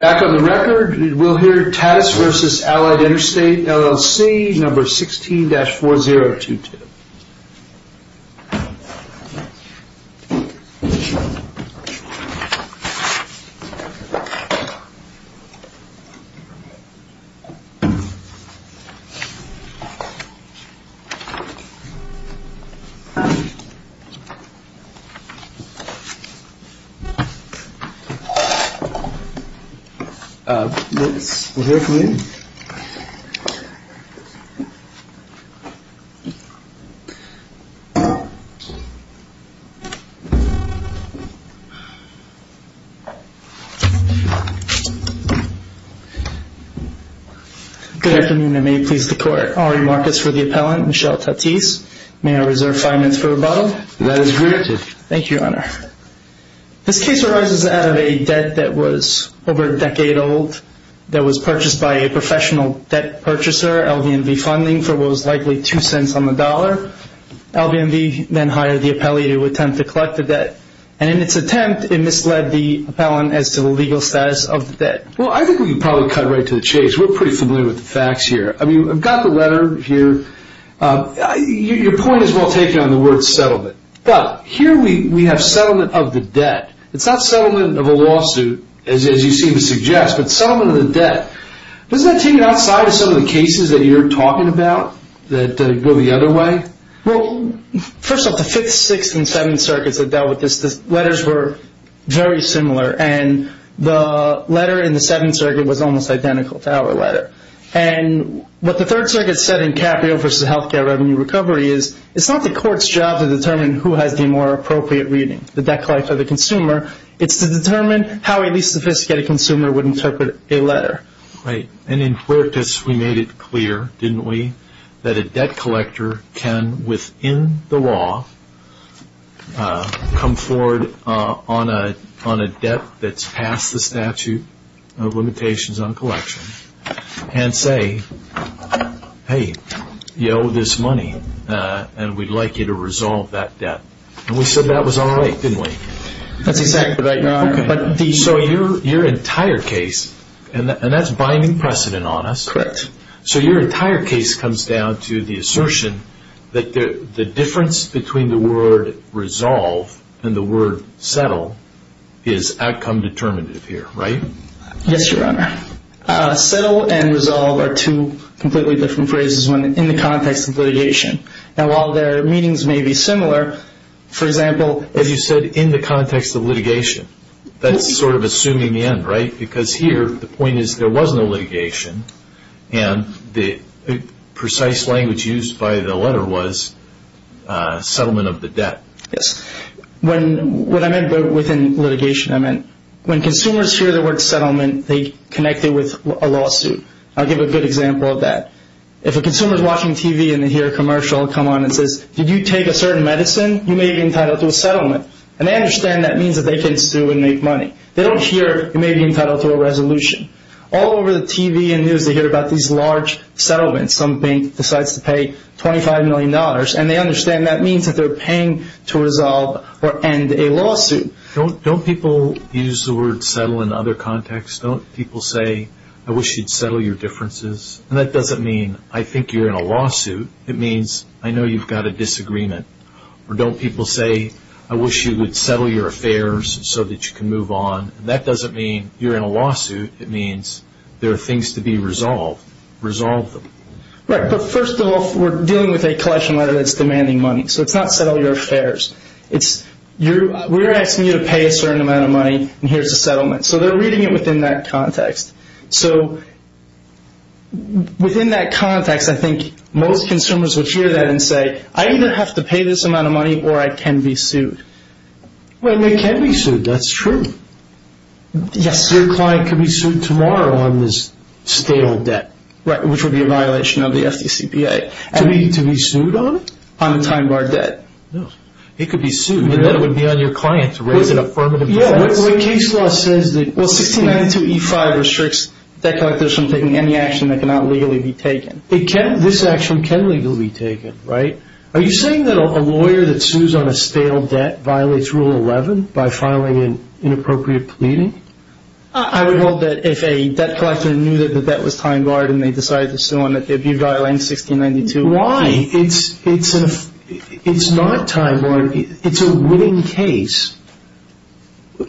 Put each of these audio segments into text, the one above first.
Back on the record, we'll hear TATIS v. Allied Interstate LLC, number 16-4022. Let's hear from him. Good afternoon and may it please the Court. I'll remark as for the appellant, Michel TATIS. May I reserve five minutes for rebuttal? That is granted. Thank you, Your Honor. This case arises out of a debt that was over a decade old that was purchased by a professional debt purchaser, LVMV Funding, for what was likely two cents on the dollar. LVMV then hired the appellee to attempt to collect the debt, and in its attempt, it misled the appellant as to the legal status of the debt. Well, I think we can probably cut right to the chase. We're pretty familiar with the facts here. I mean, I've got the letter here. Your point is well taken on the word settlement, but here we have settlement of the debt. It's not settlement of a lawsuit, as you seem to suggest, but settlement of the debt. Doesn't that take it outside of some of the cases that you're talking about that go the other way? Well, first off, the Fifth, Sixth, and Seventh Circuits that dealt with this, the letters were very similar, and the letter in the Seventh Circuit was almost identical to our letter. And what the Third Circuit said in Caprio v. Healthcare Revenue Recovery is it's not the court's job to determine who has the more appropriate reading, the debt collector or the consumer. It's to determine how a least sophisticated consumer would interpret a letter. Right. And in Quirtus, we made it clear, didn't we, that a debt collector can, within the law, come forward on a debt that's past the statute of limitations on collection and say, hey, you owe this money, and we'd like you to resolve that debt. And we said that was all right, didn't we? That's exactly right, Your Honor. So your entire case, and that's binding precedent on us. Correct. So your entire case comes down to the assertion that the difference between the word resolve and the word settle is outcome determinative here, right? Yes, Your Honor. Settle and resolve are two completely different phrases in the context of litigation. Now, while their meanings may be similar, for example... As you said, in the context of litigation. That's sort of assuming in, right? Because here, the point is there was no litigation, and the precise language used by the letter was settlement of the debt. Yes. What I meant within litigation, I meant when consumers hear the word settlement, they connect it with a lawsuit. I'll give a good example of that. If a consumer is watching TV and they hear a commercial come on and says, did you take a certain medicine? You may be entitled to a settlement. And they understand that means that they can sue and make money. They don't hear, you may be entitled to a resolution. All over the TV and news, they hear about these large settlements. Some bank decides to pay $25 million, and they understand that means that they're paying to resolve or end a lawsuit. Don't people use the word settle in other contexts? Don't people say, I wish you'd settle your differences? And that doesn't mean I think you're in a lawsuit. It means I know you've got a disagreement. Or don't people say, I wish you would settle your affairs so that you can move on? That doesn't mean you're in a lawsuit. It means there are things to be resolved. Resolve them. Right. But first off, we're dealing with a collection letter that's demanding money. So it's not settle your affairs. We're asking you to pay a certain amount of money, and here's a settlement. So they're reading it within that context. So within that context, I think most consumers would hear that and say, I either have to pay this amount of money or I can be sued. Well, you can be sued. That's true. Yes. Your client could be sued tomorrow on this stale debt. Right, which would be a violation of the FDCPA. To be sued on it? On the time bar debt. No. It could be sued. Then it would be on your client to raise an affirmative case. Yeah, what case law says that 1692E5 restricts debt collectors from taking any action that cannot legally be taken. This action can legally be taken, right? Are you saying that a lawyer that sues on a stale debt violates Rule 11 by filing an inappropriate pleading? I would hope that if a debt collector knew that the debt was time barred and they decided to sue on it, they'd be violating 1692E5. Why? It's not time barred. It's a winning case.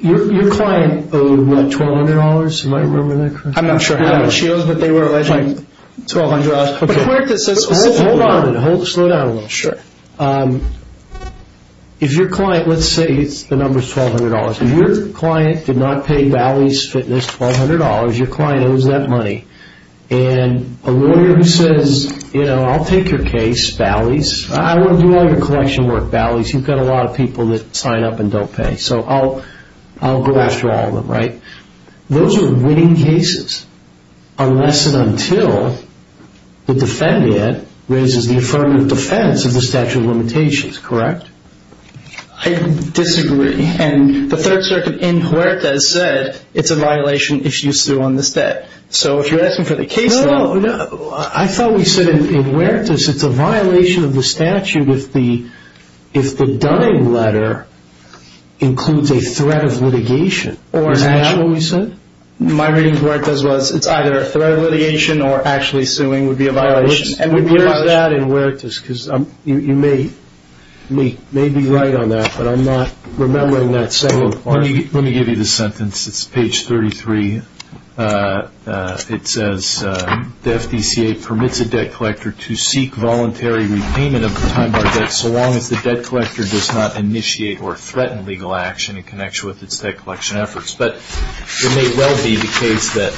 Your client owed, what, $1,200? Am I remembering that correctly? I'm not sure how much she owed, but they were alleging $1,200. Hold on. Slow down a little. Sure. If your client, let's say the number is $1,200. If your client did not pay Bally's Fitness $1,200, your client owes that money, and a lawyer says, you know, I'll take your case, Bally's. I want to do all your collection work, Bally's. You've got a lot of people that sign up and don't pay. So I'll go after all of them, right? Those are winning cases unless and until the defendant raises the affirmative defense of the statute of limitations, correct? I disagree. And the Third Circuit in Huertas said it's a violation if you sue on this debt. So if you're asking for the case, then. No, no. I thought we said in Huertas it's a violation of the statute if the dying letter includes a threat of litigation. Is that what we said? My reading of Huertas was it's either a threat of litigation or actually suing would be a violation. Where is that in Huertas? Because you may be right on that, but I'm not remembering that second part. Let me give you the sentence. It's page 33. It says, The FDCA permits a debt collector to seek voluntary repayment of the time-bar debt so long as the debt collector does not initiate or threaten legal action in connection with its debt collection efforts. But it may well be the case that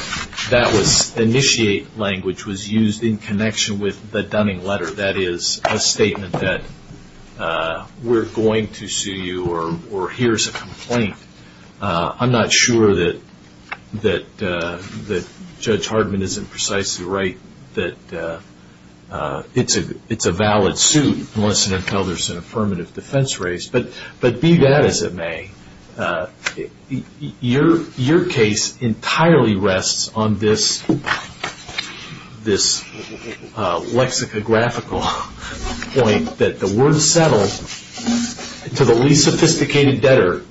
that was initiate language was used in connection with the dying letter. That is a statement that we're going to sue you or here's a complaint. I'm not sure that Judge Hardman isn't precisely right that it's a valid suit unless and until there's an affirmative defense raised. But be that as it may, your case entirely rests on this lexicographical point that the word settle to the least sophisticated debtor,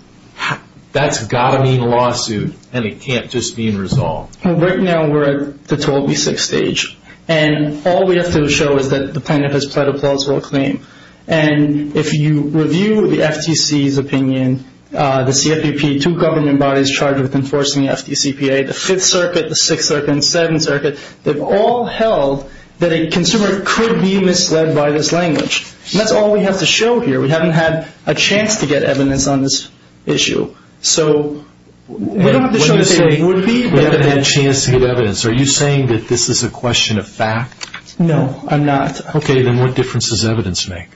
that's got to mean lawsuit and it can't just mean resolve. Right now we're at the 12B6 stage, and all we have to show is that the plaintiff has pled a plausible claim. And if you review the FTC's opinion, the CFPP, two government bodies charged with enforcing the FDCPA, the Fifth Circuit, the Sixth Circuit, and the Seventh Circuit, they've all held that a consumer could be misled by this language. And that's all we have to show here. We haven't had a chance to get evidence on this issue. So we don't have to show that they would be. We haven't had a chance to get evidence. Are you saying that this is a question of fact? No, I'm not. Okay, then what difference does evidence make?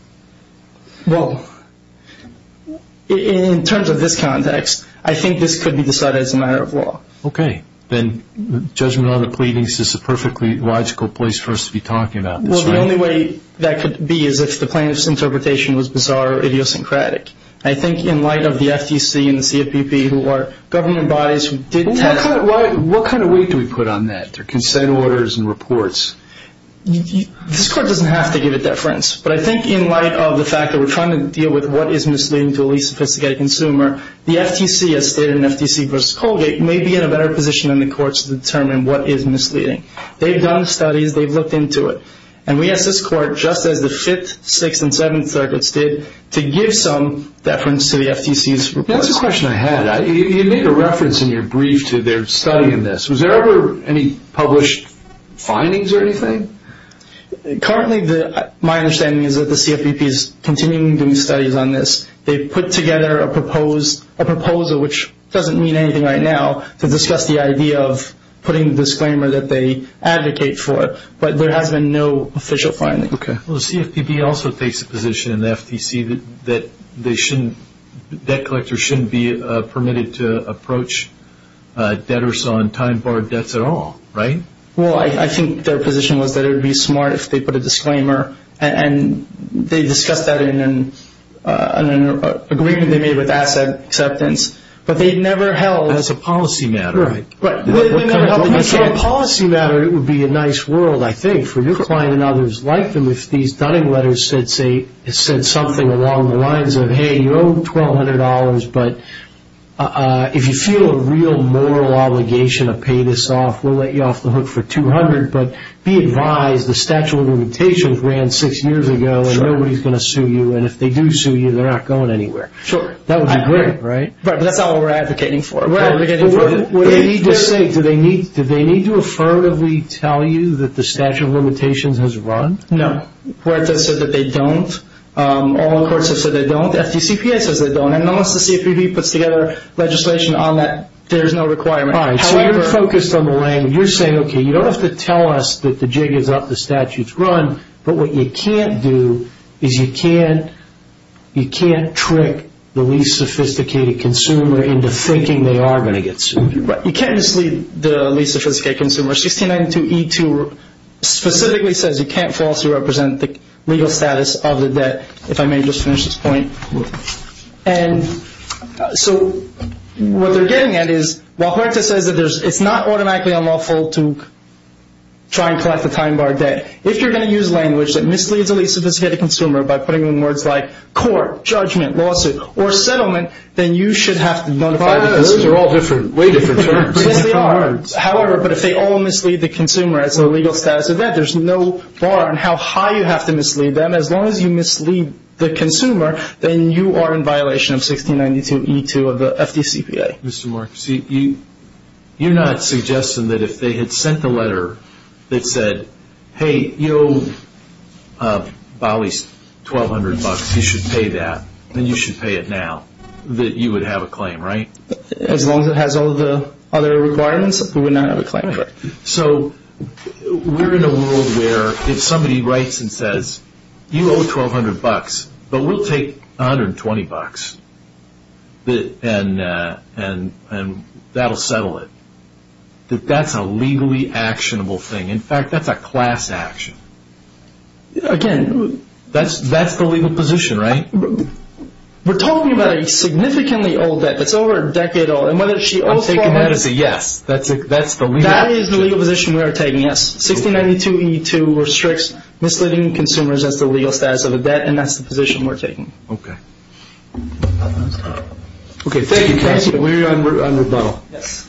Well, in terms of this context, I think this could be decided as a matter of law. Okay. Then judgment on the pleadings is a perfectly logical place for us to be talking about this, right? Well, the only way that could be is if the plaintiff's interpretation was bizarre or idiosyncratic. I think in light of the FTC and the CFPP who are government bodies who did test. What kind of weight do we put on that, their consent orders and reports? This court doesn't have to give a difference. But I think in light of the fact that we're trying to deal with what is misleading to a least sophisticated consumer, the FTC, as stated in FTC v. Colgate, may be in a better position in the court to determine what is misleading. They've done studies. They've looked into it. And we ask this court, just as the Fifth, Sixth, and Seventh Circuits did, to give some deference to the FTC's report. That's a question I had. You make a reference in your brief to their study in this. Was there ever any published findings or anything? Currently, my understanding is that the CFPP is continuing doing studies on this. They've put together a proposal, which doesn't mean anything right now, to discuss the idea of putting the disclaimer that they advocate for. But there has been no official finding. Okay. Well, the CFPP also takes a position in the FTC that debt collectors shouldn't be permitted to approach debtors on time-barred debts at all, right? Well, I think their position was that it would be smart if they put a disclaimer. And they discussed that in an agreement they made with Asset Acceptance. But they never held as a policy matter. If it were a policy matter, it would be a nice world, I think, for your client and others like them if these Dunning letters said something along the lines of, hey, you owe $1,200, but if you feel a real moral obligation to pay this off, we'll let you off the hook for $200. But be advised the Statute of Limitations ran six years ago, and nobody's going to sue you. And if they do sue you, they're not going anywhere. Sure. That would be great, right? Right, but that's not what we're advocating for. Right. What do they need to say? Do they need to affirmatively tell you that the Statute of Limitations has run? No. Where it says that they don't, all the courts have said they don't. The FTCPA says they don't. And unless the CFPP puts together legislation on that, there's no requirement. All right. So you're focused on the language. You're saying, okay, you don't have to tell us that the jig is up, the statute's run, but what you can't do is you can't trick the least sophisticated consumer into thinking they are going to get sued. You can't mislead the least sophisticated consumer. 1692E2 specifically says you can't falsely represent the legal status of the debt, if I may just finish this point. And so what they're getting at is while Huerta says that it's not automatically unlawful to try and collect the time bar debt, if you're going to use language that misleads the least sophisticated consumer by putting in words like court, judgment, lawsuit, or settlement, then you should have to notify the consumer. Those are all different, way different terms. Yes, they are. However, but if they all mislead the consumer as the legal status of debt, there's no bar on how high you have to mislead them. As long as you mislead the consumer, then you are in violation of 1692E2 of the FDCPA. Mr. Marks, you're not suggesting that if they had sent a letter that said, hey, you owe Bollies 1,200 bucks, you should pay that, then you should pay it now, that you would have a claim, right? As long as it has all the other requirements, we would not have a claim. Right. So we're in a world where if somebody writes and says, you owe 1,200 bucks, but we'll take 120 bucks and that will settle it, that that's a legally actionable thing. In fact, that's a class action. Again, that's the legal position, right? We're talking about a significantly old debt that's over a decade old. I'm taking that as a yes. That is the legal position we are taking, yes. 1692E2 restricts misleading consumers as the legal status of a debt, and that's the position we're taking. Okay. Okay, thank you, counsel. We are on rebuttal. Yes.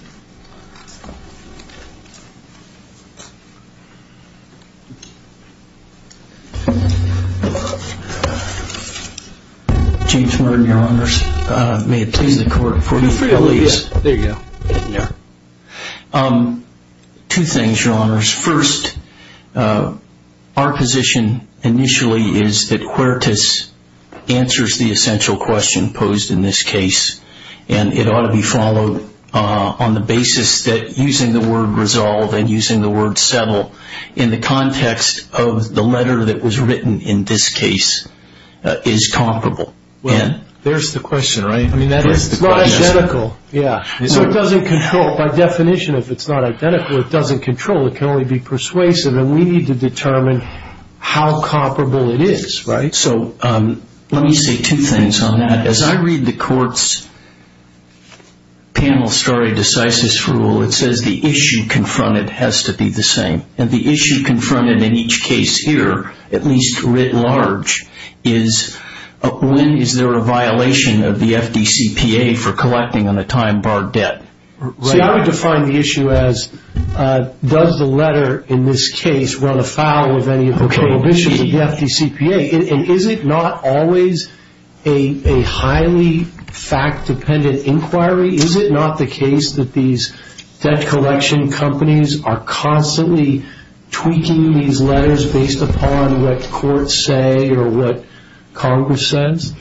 James Merton, Your Honors. May it please the Court for the appeal, please. There you go. Two things, Your Honors. First, our position initially is that Quirtus answers the essential question posed in this case, and it ought to be followed on the basis that using the word resolve and using the word settle in the context of the letter that was written in this case is comparable. There's the question, right? It's not identical. Yeah. So it doesn't control. By definition, if it's not identical, it doesn't control. It can only be persuasive, and we need to determine how comparable it is, right? So let me say two things on that. As I read the Court's panel stare decisis rule, it says the issue confronted has to be the same, and the issue confronted in each case here, at least writ large, is when is there a violation of the FDCPA for collecting on a time-barred debt. See, I would define the issue as does the letter in this case run afoul of any of the prohibitions of the FDCPA, and is it not always a highly fact-dependent inquiry? Is it not the case that these debt collection companies are constantly tweaking these letters based upon what courts say or what Congress says?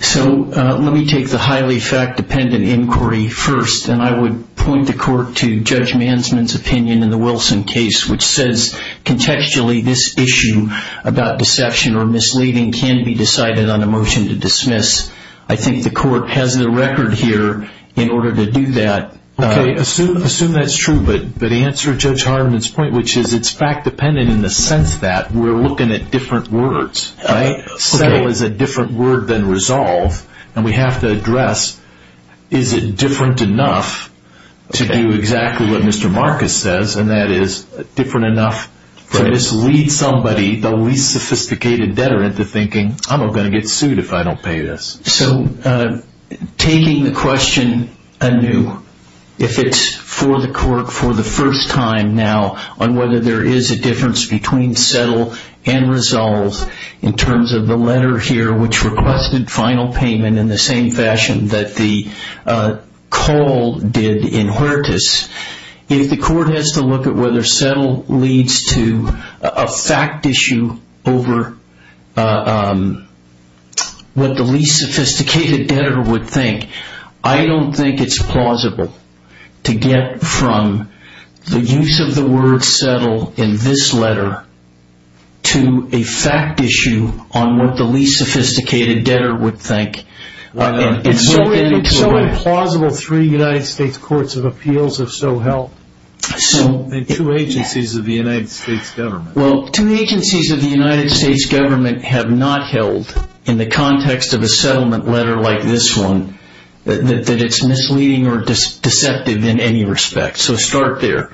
So let me take the highly fact-dependent inquiry first, and I would point the Court to Judge Mansman's opinion in the Wilson case, which says contextually this issue about deception or misleading can be decided on a motion to dismiss. I think the Court has the record here in order to do that. Okay. Assume that's true, but answer Judge Hardeman's point, which is it's fact-dependent in the sense that we're looking at different words, right? Okay. Settle is a different word than resolve, and we have to address is it different enough to do exactly what Mr. Marcus says, and that is different enough to mislead somebody, the least sophisticated debtor, into thinking, I'm going to get sued if I don't pay this. So taking the question anew, if it's for the first time now on whether there is a difference between settle and resolve in terms of the letter here which requested final payment in the same fashion that the call did in Huertas, if the Court has to look at whether settle leads to a fact issue over what the least sophisticated debtor would think, I don't think it's plausible to get from the use of the word settle in this letter to a fact issue on what the least sophisticated debtor would think. It's so implausible three United States Courts of Appeals have so held, and two agencies of the United States government. Well, two agencies of the United States government have not held in the context of a settlement letter like this one that it's misleading or deceptive in any respect. So start there.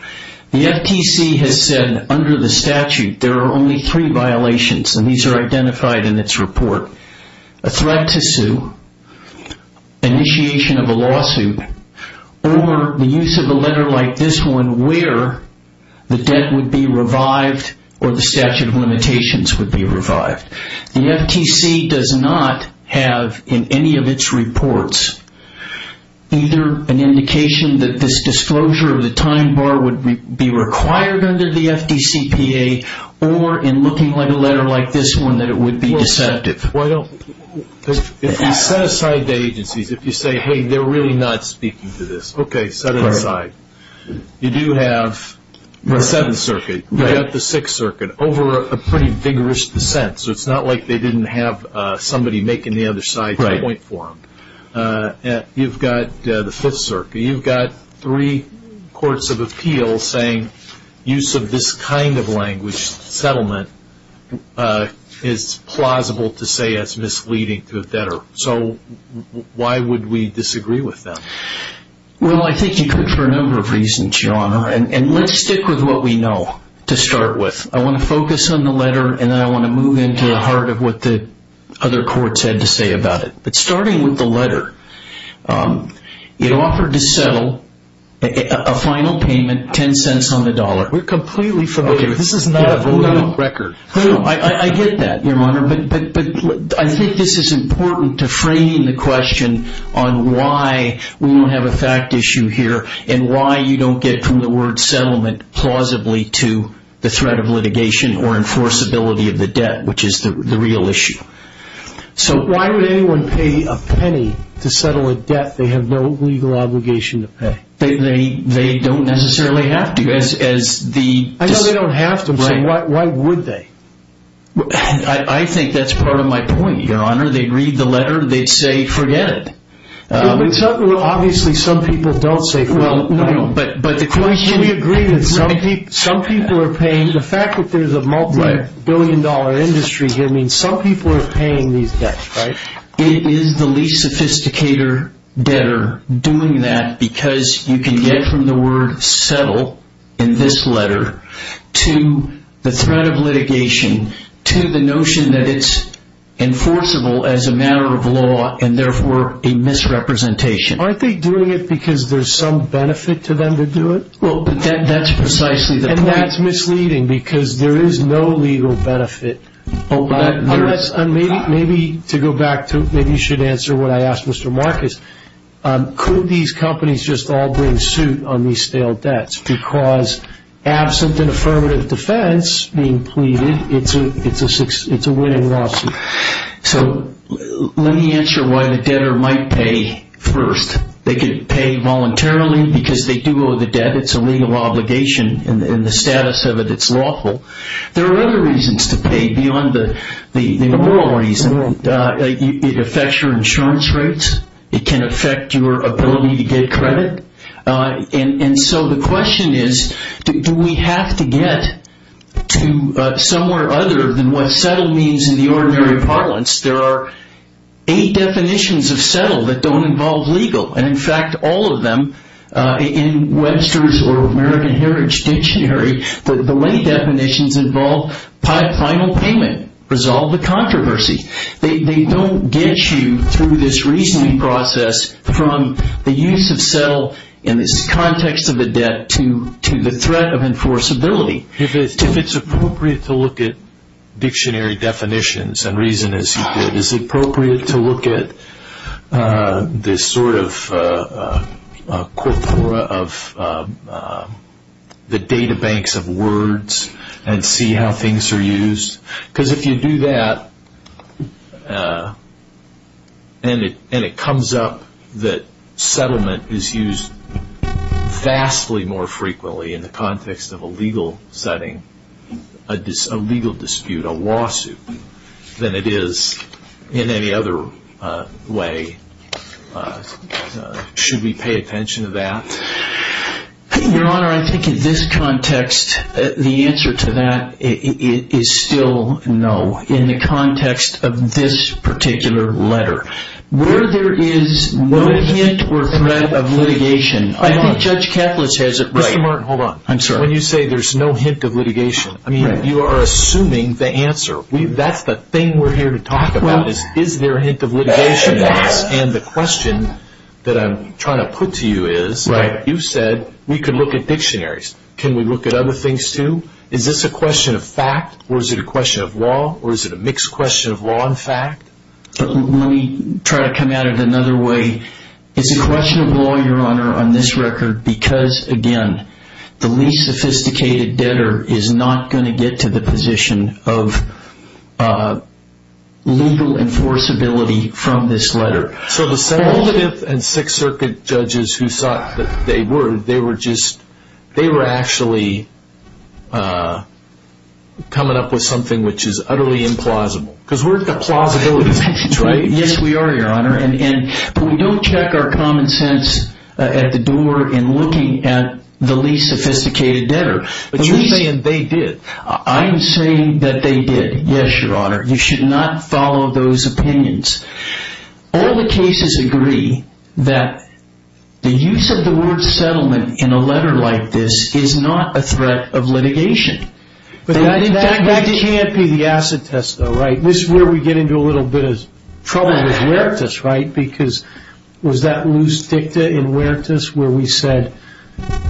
The FTC has said under the statute there are only three violations, and these are identified in its report. A threat to sue, initiation of a lawsuit, or the use of a letter like this one where the debt would be revived or the statute of limitations would be revived. The FTC does not have in any of its reports either an indication that this disclosure of the time bar would be required under the FTCPA or in looking at a letter like this one that it would be deceptive. If you set aside the agencies, if you say, hey, they're really not speaking to this, okay, set it aside. You do have the Seventh Circuit. You've got the Sixth Circuit over a pretty vigorous dissent, so it's not like they didn't have somebody making the other side point for them. You've got the Fifth Circuit. You've got three courts of appeals saying use of this kind of languished settlement is plausible to say it's misleading to a debtor. So why would we disagree with them? Well, I think you could for a number of reasons, Your Honor, and let's stick with what we know to start with. I want to focus on the letter, and then I want to move into the heart of what the other courts had to say about it. But starting with the letter, it offered to settle a final payment, $0.10 on the dollar. We're completely familiar with this. This is not a valid record. I get that, Your Honor, but I think this is important to frame the question on why we don't have a fact issue here and why you don't get from the word settlement plausibly to the threat of litigation or enforceability of the debt, which is the real issue. So why would anyone pay a penny to settle a debt they have no legal obligation to pay? They don't necessarily have to. I know they don't have to, so why would they? I think that's part of my point, Your Honor. They'd read the letter. They'd say forget it. Obviously, some people don't say forget it. We agree that some people are paying. The fact that there's a multi-billion dollar industry here means some people are paying these debts, right? It is the least sophisticated debtor doing that because you can get from the word settle in this letter to the threat of litigation to the notion that it's enforceable as a matter of law and therefore a misrepresentation. Aren't they doing it because there's some benefit to them to do it? Well, that's precisely the point. And that's misleading because there is no legal benefit. Maybe to go back to maybe you should answer what I asked Mr. Marcus. Could these companies just all bring suit on these stale debts? Because absent an affirmative defense being pleaded, it's a winning lawsuit. So let me answer why the debtor might pay first. They could pay voluntarily because they do owe the debt. It's a legal obligation and the status of it, it's lawful. There are other reasons to pay beyond the moral reason. It affects your insurance rates. It can affect your ability to get credit. And so the question is do we have to get to somewhere other than what settle means in the ordinary parlance? There are eight definitions of settle that don't involve legal. And, in fact, all of them in Webster's or American Heritage Dictionary, the late definitions involve final payment, resolve the controversy. They don't get you through this reasoning process from the use of settle in this context of the debt to the threat of enforceability. If it's appropriate to look at dictionary definitions and reason as you did, is it appropriate to look at this sort of corpora of the databanks of words and see how things are used? Because if you do that and it comes up that settlement is used vastly more frequently in the context of a legal setting, a legal dispute, a lawsuit, than it is in any other way, should we pay attention to that? Your Honor, I think in this context, the answer to that is still no. In the context of this particular letter, where there is no hint or threat of litigation, I think Judge Katlos has it right. Mr. Martin, hold on. I'm sorry. When you say there's no hint of litigation, I mean, you are assuming the answer. That's the thing we're here to talk about is is there a hint of litigation? The question that I'm trying to put to you is, you said we could look at dictionaries. Can we look at other things too? Is this a question of fact or is it a question of law or is it a mixed question of law and fact? Let me try to come at it another way. It's a question of law, Your Honor, on this record because, again, the least sophisticated debtor is not going to get to the position of legal enforceability from this letter. So the Second and Sixth Circuit judges who thought that they were, they were actually coming up with something which is utterly implausible because we're at the plausibility stage, right? But we don't check our common sense at the door in looking at the least sophisticated debtor. But you're saying they did. I'm saying that they did. Yes, Your Honor. You should not follow those opinions. All the cases agree that the use of the word settlement in a letter like this is not a threat of litigation. That can't be the acid test though, right? This is where we get into a little bit of trouble with Veritas, right? Because was that loose dicta in Veritas where we said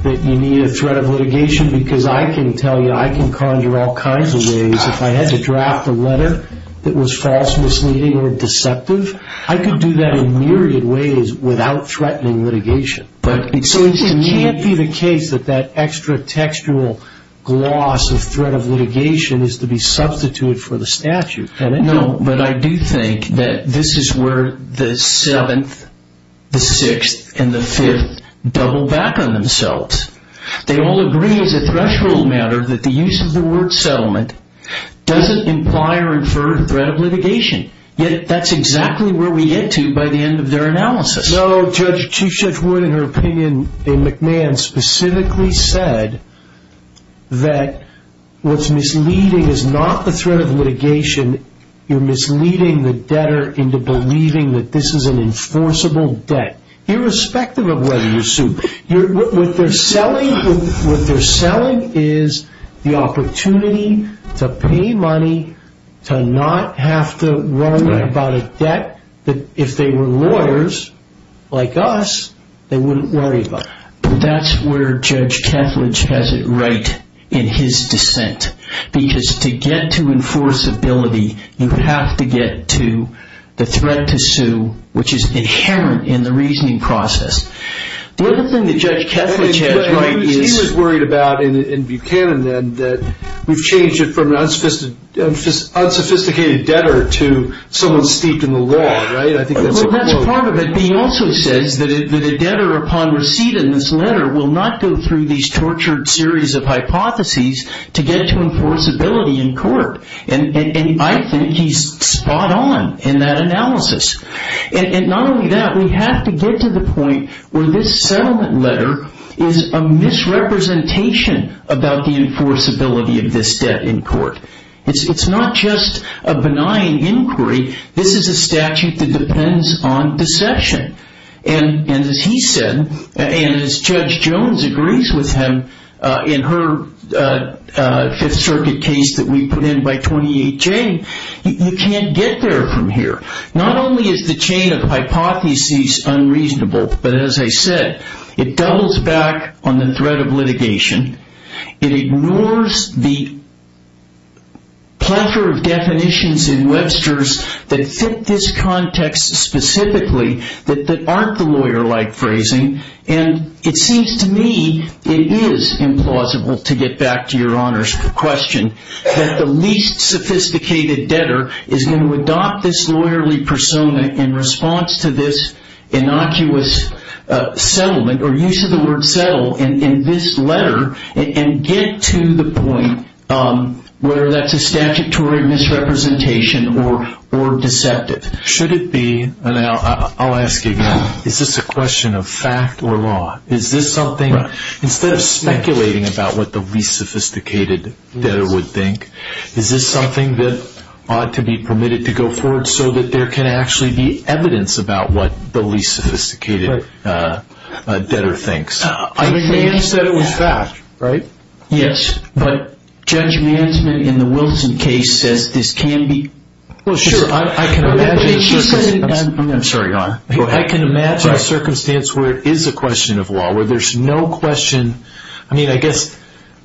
that you need a threat of litigation? Because I can tell you I can conjure all kinds of ways. If I had to draft a letter that was false, misleading, or deceptive, I could do that in myriad ways without threatening litigation. So it can't be the case that that extra textual gloss of threat of litigation is to be substituted for the statute, can it? No, but I do think that this is where the Seventh, the Sixth, and the Fifth double back on themselves. They all agree as a threshold matter that the use of the word settlement doesn't imply or infer threat of litigation. Yet that's exactly where we get to by the end of their analysis. No, Chief Judge Wood in her opinion, in McMahon, specifically said that what's misleading is not the threat of litigation. You're misleading the debtor into believing that this is an enforceable debt, irrespective of whether you sue. What they're selling is the opportunity to pay money, to not have to worry about a debt that if they were lawyers like us, they wouldn't worry about. That's where Judge Kethledge has it right in his dissent. Because to get to enforceability, you have to get to the threat to sue, which is inherent in the reasoning process. Well, the thing that Judge Kethledge has right is... He was worried about in Buchanan then that we've changed it from an unsophisticated debtor to someone steeped in the law, right? I think that's a quote. Well, that's part of it. But he also says that a debtor upon receipt in this letter will not go through these tortured series of hypotheses to get to enforceability in court. And I think he's spot on in that analysis. And not only that, we have to get to the point where this settlement letter is a misrepresentation about the enforceability of this debt in court. It's not just a benign inquiry. This is a statute that depends on deception. And as he said, and as Judge Jones agrees with him in her Fifth Circuit case that we put in by 28 Jane, you can't get there from here. Not only is the chain of hypotheses unreasonable, but as I said, it doubles back on the threat of litigation. It ignores the plethora of definitions in Webster's that fit this context specifically that aren't the lawyer-like phrasing. And it seems to me it is implausible, to get back to your Honor's question, that the least sophisticated debtor is going to adopt this lawyerly persona in response to this innocuous settlement, or use of the word settle in this letter, and get to the point where that's a statutory misrepresentation or deceptive. Should it be, and I'll ask again, is this a question of fact or law? Is this something, instead of speculating about what the least sophisticated debtor would think, is this something that ought to be permitted to go forward so that there can actually be evidence about what the least sophisticated debtor thinks? I think he said it was fact, right? Yes, but Judge Mansman in the Wilson case says this can be... Well, sure, I can imagine a circumstance where it is a question of law, where there's no question... I mean, I guess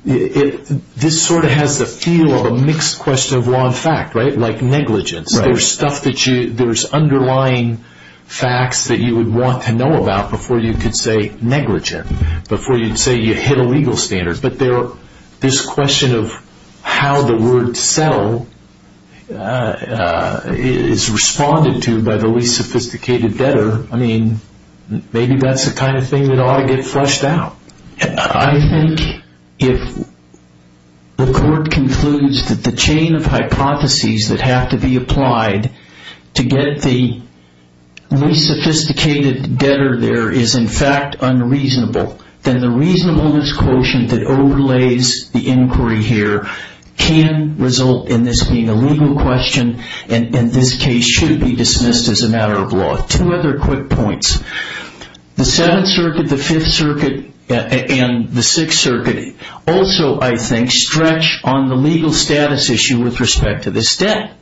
this sort of has the feel of a mixed question of law and fact, right? Like negligence, there's underlying facts that you would want to know about before you could say negligent, before you'd say you hit a legal standard. But this question of how the word settle is responded to by the least sophisticated debtor, I mean, maybe that's the kind of thing that ought to get fleshed out. I think if the court concludes that the chain of hypotheses that have to be applied to get the least sophisticated debtor there is in fact unreasonable, then the reasonableness quotient that overlays the inquiry here can result in this being a legal question, and this case should be dismissed as a matter of law. Two other quick points. The Seventh Circuit, the Fifth Circuit, and the Sixth Circuit also, I think, stretch on the legal status issue with respect to this debt.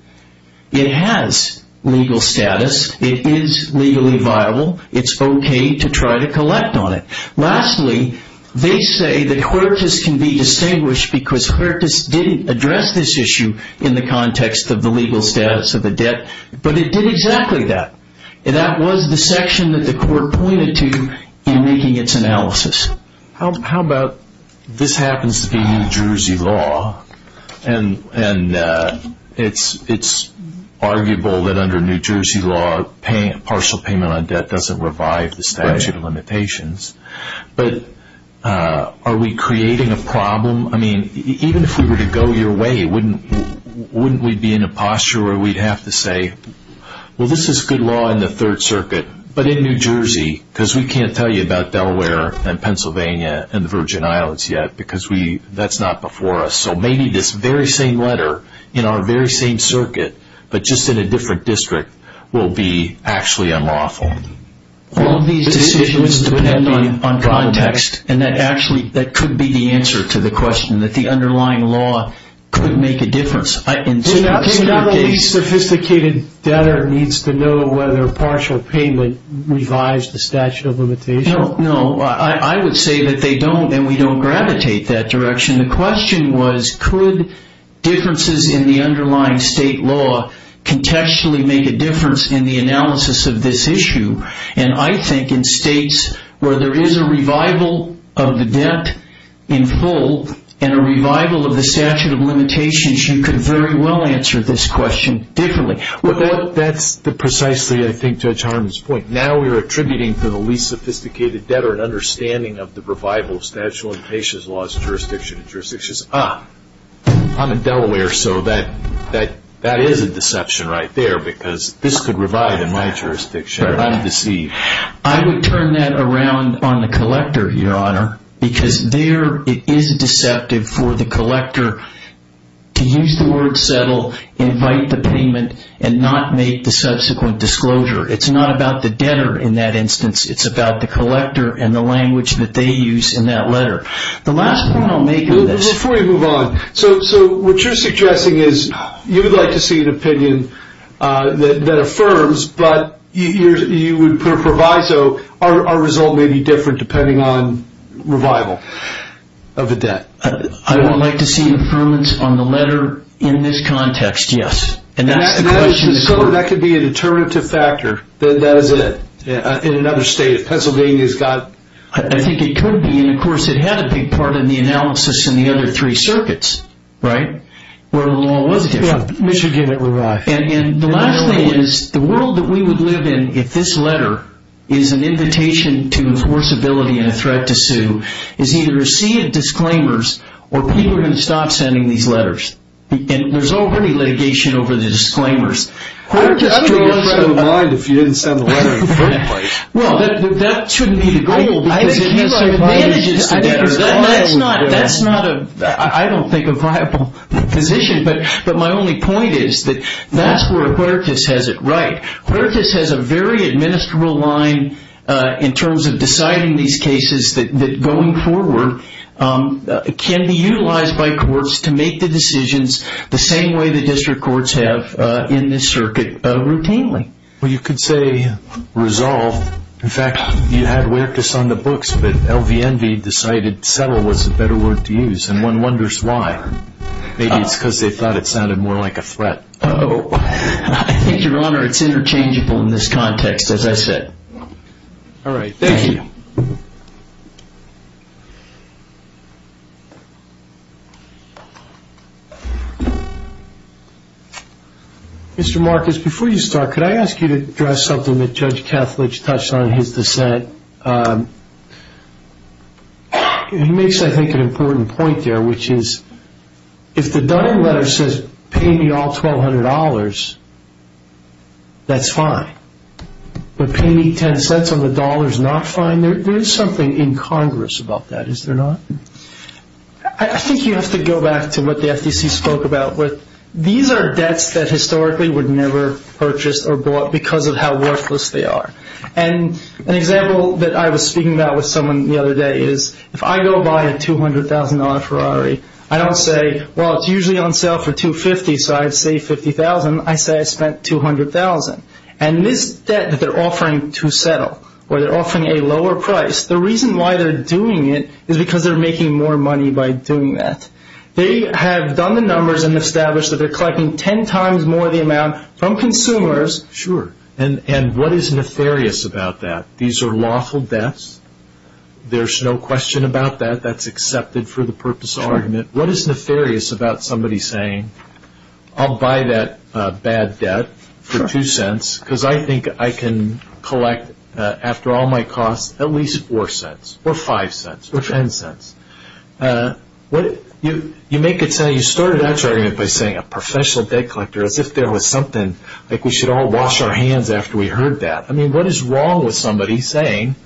It has legal status. It is legally viable. It's okay to try to collect on it. Lastly, they say that Quirtus can be distinguished because Quirtus didn't address this issue in the context of the legal status of the debt, but it did exactly that, and that was the section that the court pointed to in making its analysis. How about this happens to be New Jersey law, and it's arguable that under New Jersey law, partial payment on debt doesn't revive the statute of limitations, but are we creating a problem? I mean, even if we were to go your way, wouldn't we be in a posture where we'd have to say, well, this is good law in the Third Circuit, but in New Jersey, because we can't tell you about Delaware and Pennsylvania and the Virgin Islands yet because that's not before us, so maybe this very same letter in our very same circuit, but just in a different district, will be actually unlawful. All of these decisions depend on context, and that actually could be the answer to the question, that the underlying law could make a difference. In some cases, it could. So now the least sophisticated debtor needs to know whether partial payment revives the statute of limitations? No, I would say that they don't, and we don't gravitate that direction. The question was, could differences in the underlying state law contextually make a difference in the analysis of this issue? And I think in states where there is a revival of the debt in full and a revival of the statute of limitations, you could very well answer this question differently. Well, that's precisely, I think, Judge Harmon's point. Now we're attributing to the least sophisticated debtor an understanding of the revival of statute of limitations laws, jurisdiction and jurisdictions. Ah, I'm in Delaware, so that is a deception right there because this could revive in my jurisdiction. I'm deceived. I would turn that around on the collector, Your Honor, because there it is deceptive for the collector to use the word settle, invite the payment, and not make the subsequent disclosure. It's not about the debtor in that instance. It's about the collector and the language that they use in that letter. The last point I'll make on this. Before we move on, so what you're suggesting is you would like to see an opinion that affirms, but you would put a proviso our result may be different depending on revival of a debt. I would like to see an affirmance on the letter in this context, yes. That could be a determinative factor. That is it. In another state. If Pennsylvania has got it. I think it could be, and of course it had a big part in the analysis in the other three circuits, right? Where the law was different. Yeah, Michigan had revived. And the last thing is the world that we would live in if this letter is an invitation to enforceability and a threat to sue is either a sea of disclaimers or people are going to stop sending these letters. And there's already litigation over the disclaimers. I don't think it's going to mind if you didn't send the letter in the first place. Well, that shouldn't be the goal. I think you have advantages to that. That's not a, I don't think, a viable position. But my only point is that that's where Huertas has it right. Huertas has a very administrable line in terms of deciding these cases that going forward can be utilized by courts to make the decisions the same way the district courts have in this circuit routinely. Well, you could say resolve. In fact, you had Huertas on the books, but LVNV decided settle was the better word to use. And one wonders why. Maybe it's because they thought it sounded more like a threat. I think, Your Honor, it's interchangeable in this context, as I said. All right. Thank you. Mr. Marcus, before you start, could I ask you to address something that Judge Kethledge touched on in his dissent? He makes, I think, an important point there, which is if the Dunning letter says pay me all $1,200, that's fine. But pay me $0.10 on the dollar is not fine? There is something incongruous about that, is there not? I think you have to go back to what the FTC spoke about. These are debts that historically would never purchase or bought because of how worthless they are. And an example that I was speaking about with someone the other day is if I go buy a $200,000 Ferrari, I don't say, well, it's usually on sale for $250,000, so I'd save $50,000. I say I spent $200,000. And this debt that they're offering to settle, where they're offering a lower price, the reason why they're doing it is because they're making more money by doing that. They have done the numbers and established that they're collecting ten times more the amount from consumers. Sure. And what is nefarious about that? These are lawful debts. There's no question about that. That's accepted for the purpose of argument. What is nefarious about somebody saying I'll buy that bad debt for $0.02 because I think I can collect, after all my costs, at least $0.04 or $0.05 or $0.10? You make it sound like you started that argument by saying a professional debt collector as if there was something, like we should all wash our hands after we heard that. I mean, what is wrong with somebody saying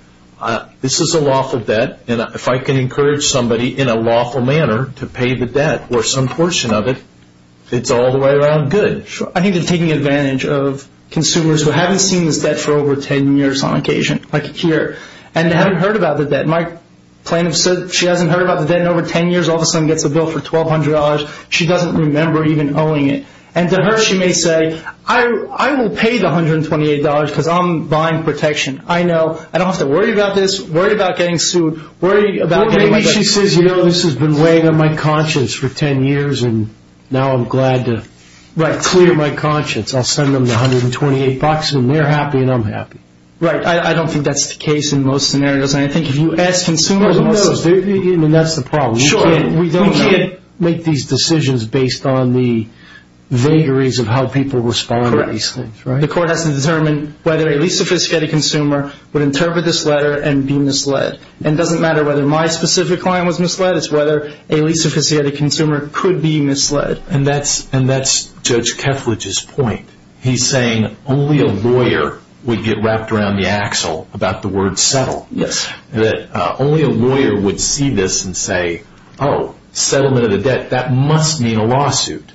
this is a lawful debt, and if I can encourage somebody in a lawful manner to pay the debt or some portion of it, it's all the way around good. Sure. I think they're taking advantage of consumers who haven't seen this debt for over ten years on occasion, like here, and haven't heard about the debt. My plaintiff said she hasn't heard about the debt in over ten years, all of a sudden gets a bill for $1,200. She doesn't remember even owing it. And to her, she may say, I will pay the $128 because I'm buying protection. I know. I don't have to worry about this, worry about getting sued, worry about getting my debt. I'll send them the $128 and they're happy and I'm happy. Right. I don't think that's the case in most scenarios. I think if you ask consumers in most scenarios, that's the problem. Sure. We can't make these decisions based on the vagaries of how people respond to these things. Correct. The court has to determine whether a least sophisticated consumer would interpret this letter and be misled. And it doesn't matter whether my specific client was misled, it's whether a least sophisticated consumer could be misled. And that's Judge Keflage's point. He's saying only a lawyer would get wrapped around the axle about the word settle. Yes. That only a lawyer would see this and say, oh, settlement of the debt, that must mean a lawsuit.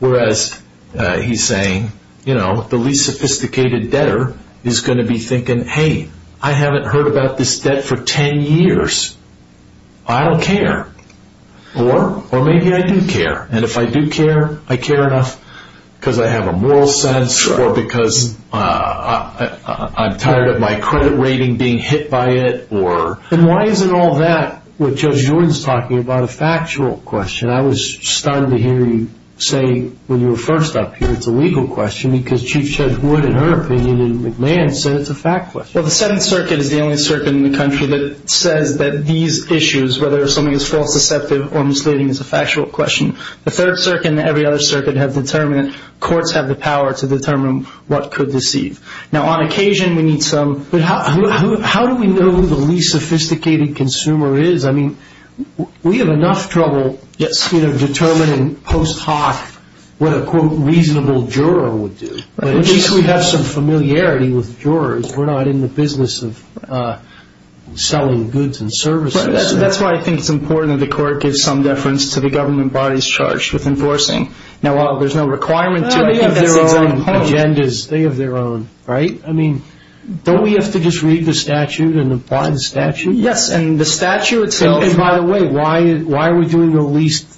Whereas he's saying, you know, the least sophisticated debtor is going to be thinking, hey, I haven't heard about this debt for ten years. I don't care. Or maybe I do care. And if I do care, I care enough because I have a moral sense or because I'm tired of my credit rating being hit by it. And why isn't all that what Judge Jordan is talking about a factual question? I was stunned to hear you say when you were first up here it's a legal question because Chief Judge Wood in her opinion in McMahon said it's a fact question. Well, the Seventh Circuit is the only circuit in the country that says that these issues, whether something is false deceptive or misleading, is a factual question. The Third Circuit and every other circuit have determined courts have the power to determine what could deceive. Now, on occasion we need some. But how do we know who the least sophisticated consumer is? I mean, we have enough trouble determining post hoc what a, quote, reasonable juror would do. At least we have some familiarity with jurors. We're not in the business of selling goods and services. That's why I think it's important that the court gives some deference to the government bodies charged with enforcing. Now, while there's no requirement to have their own agendas, they have their own, right? I mean, don't we have to just read the statute and apply the statute? Yes, and the statute itself. And by the way, why are we doing the least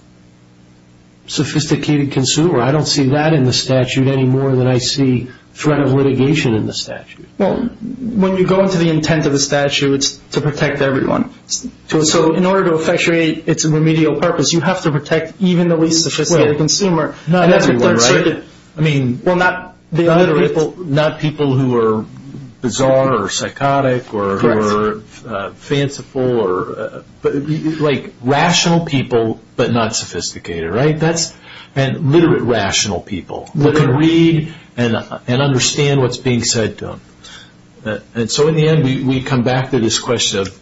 sophisticated consumer? I don't see that in the statute any more than I see threat of litigation in the statute. Well, when you go into the intent of the statute, it's to protect everyone. So in order to effectuate its remedial purpose, you have to protect even the least sophisticated consumer. Not everyone, right? I mean, not people who are bizarre or psychotic or fanciful or, like, rational people but not sophisticated, right? And literate rational people who can read and understand what's being said to them. And so in the end, we come back to this question of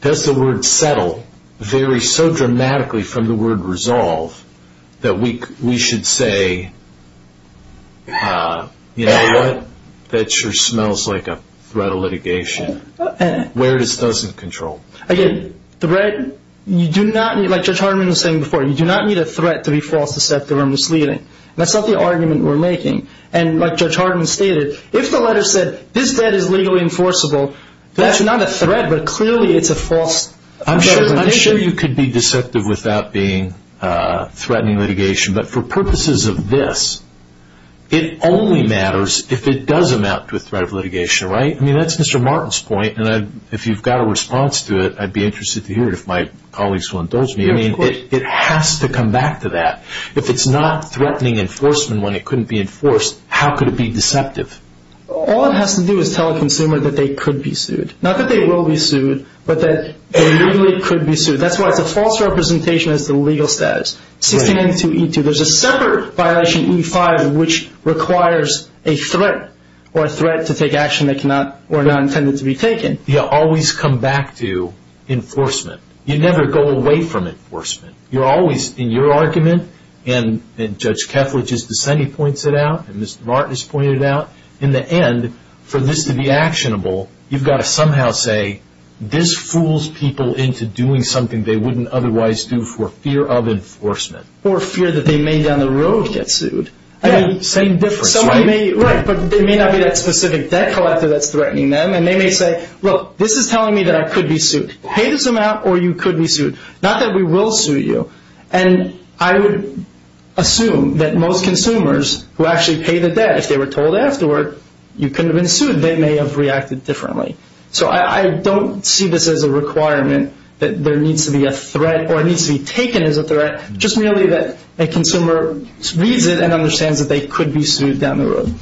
does the word settle vary so dramatically from the word resolve that we should say, you know what? That sure smells like a threat of litigation. Where it is doesn't control. Again, threat, you do not need, like Judge Hardeman was saying before, you do not need a threat to be false, deceptive, or misleading. That's not the argument we're making. And like Judge Hardeman stated, if the letter said this debt is legally enforceable, that's not a threat, but clearly it's a false threat of litigation. I'm sure you could be deceptive without being threatening litigation, but for purposes of this, it only matters if it does amount to a threat of litigation, right? I mean, that's Mr. Martin's point, and if you've got a response to it, I'd be interested to hear it if my colleagues will indulge me. I mean, it has to come back to that. If it's not threatening enforcement when it couldn't be enforced, how could it be deceptive? All it has to do is tell a consumer that they could be sued. Not that they will be sued, but that they really could be sued. That's why it's a false representation as to the legal status. There's a separate violation, E-5, which requires a threat or a threat to take action that were not intended to be taken. You always come back to enforcement. You never go away from enforcement. You're always in your argument, and Judge Kefla just ascended points it out, and Mr. Martin has pointed it out. In the end, for this to be actionable, you've got to somehow say, this fools people into doing something they wouldn't otherwise do for fear of enforcement. Or fear that they may down the road get sued. Yeah, same difference, right? Right, but they may not be that specific debt collector that's threatening them, and they may say, look, this is telling me that I could be sued. Pay this amount or you could be sued. Not that we will sue you, and I would assume that most consumers who actually pay the debt, if they were told afterward you couldn't have been sued, they may have reacted differently. So I don't see this as a requirement that there needs to be a threat, or it needs to be taken as a threat, just merely that a consumer reads it and understands that they could be sued down the road.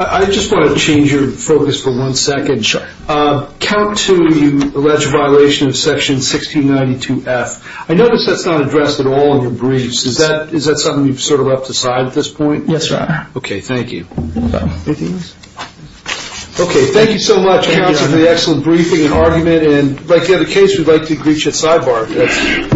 I just want to change your focus for one second. Sure. Count 2, you allege a violation of Section 1692-F. I notice that's not addressed at all in your briefs. Is that something you've sort of left aside at this point? Yes, Your Honor. Okay, thank you. Okay, thank you so much, counsel, for the excellent briefing and argument. And like the other case, we'd like to agree to a sidebar.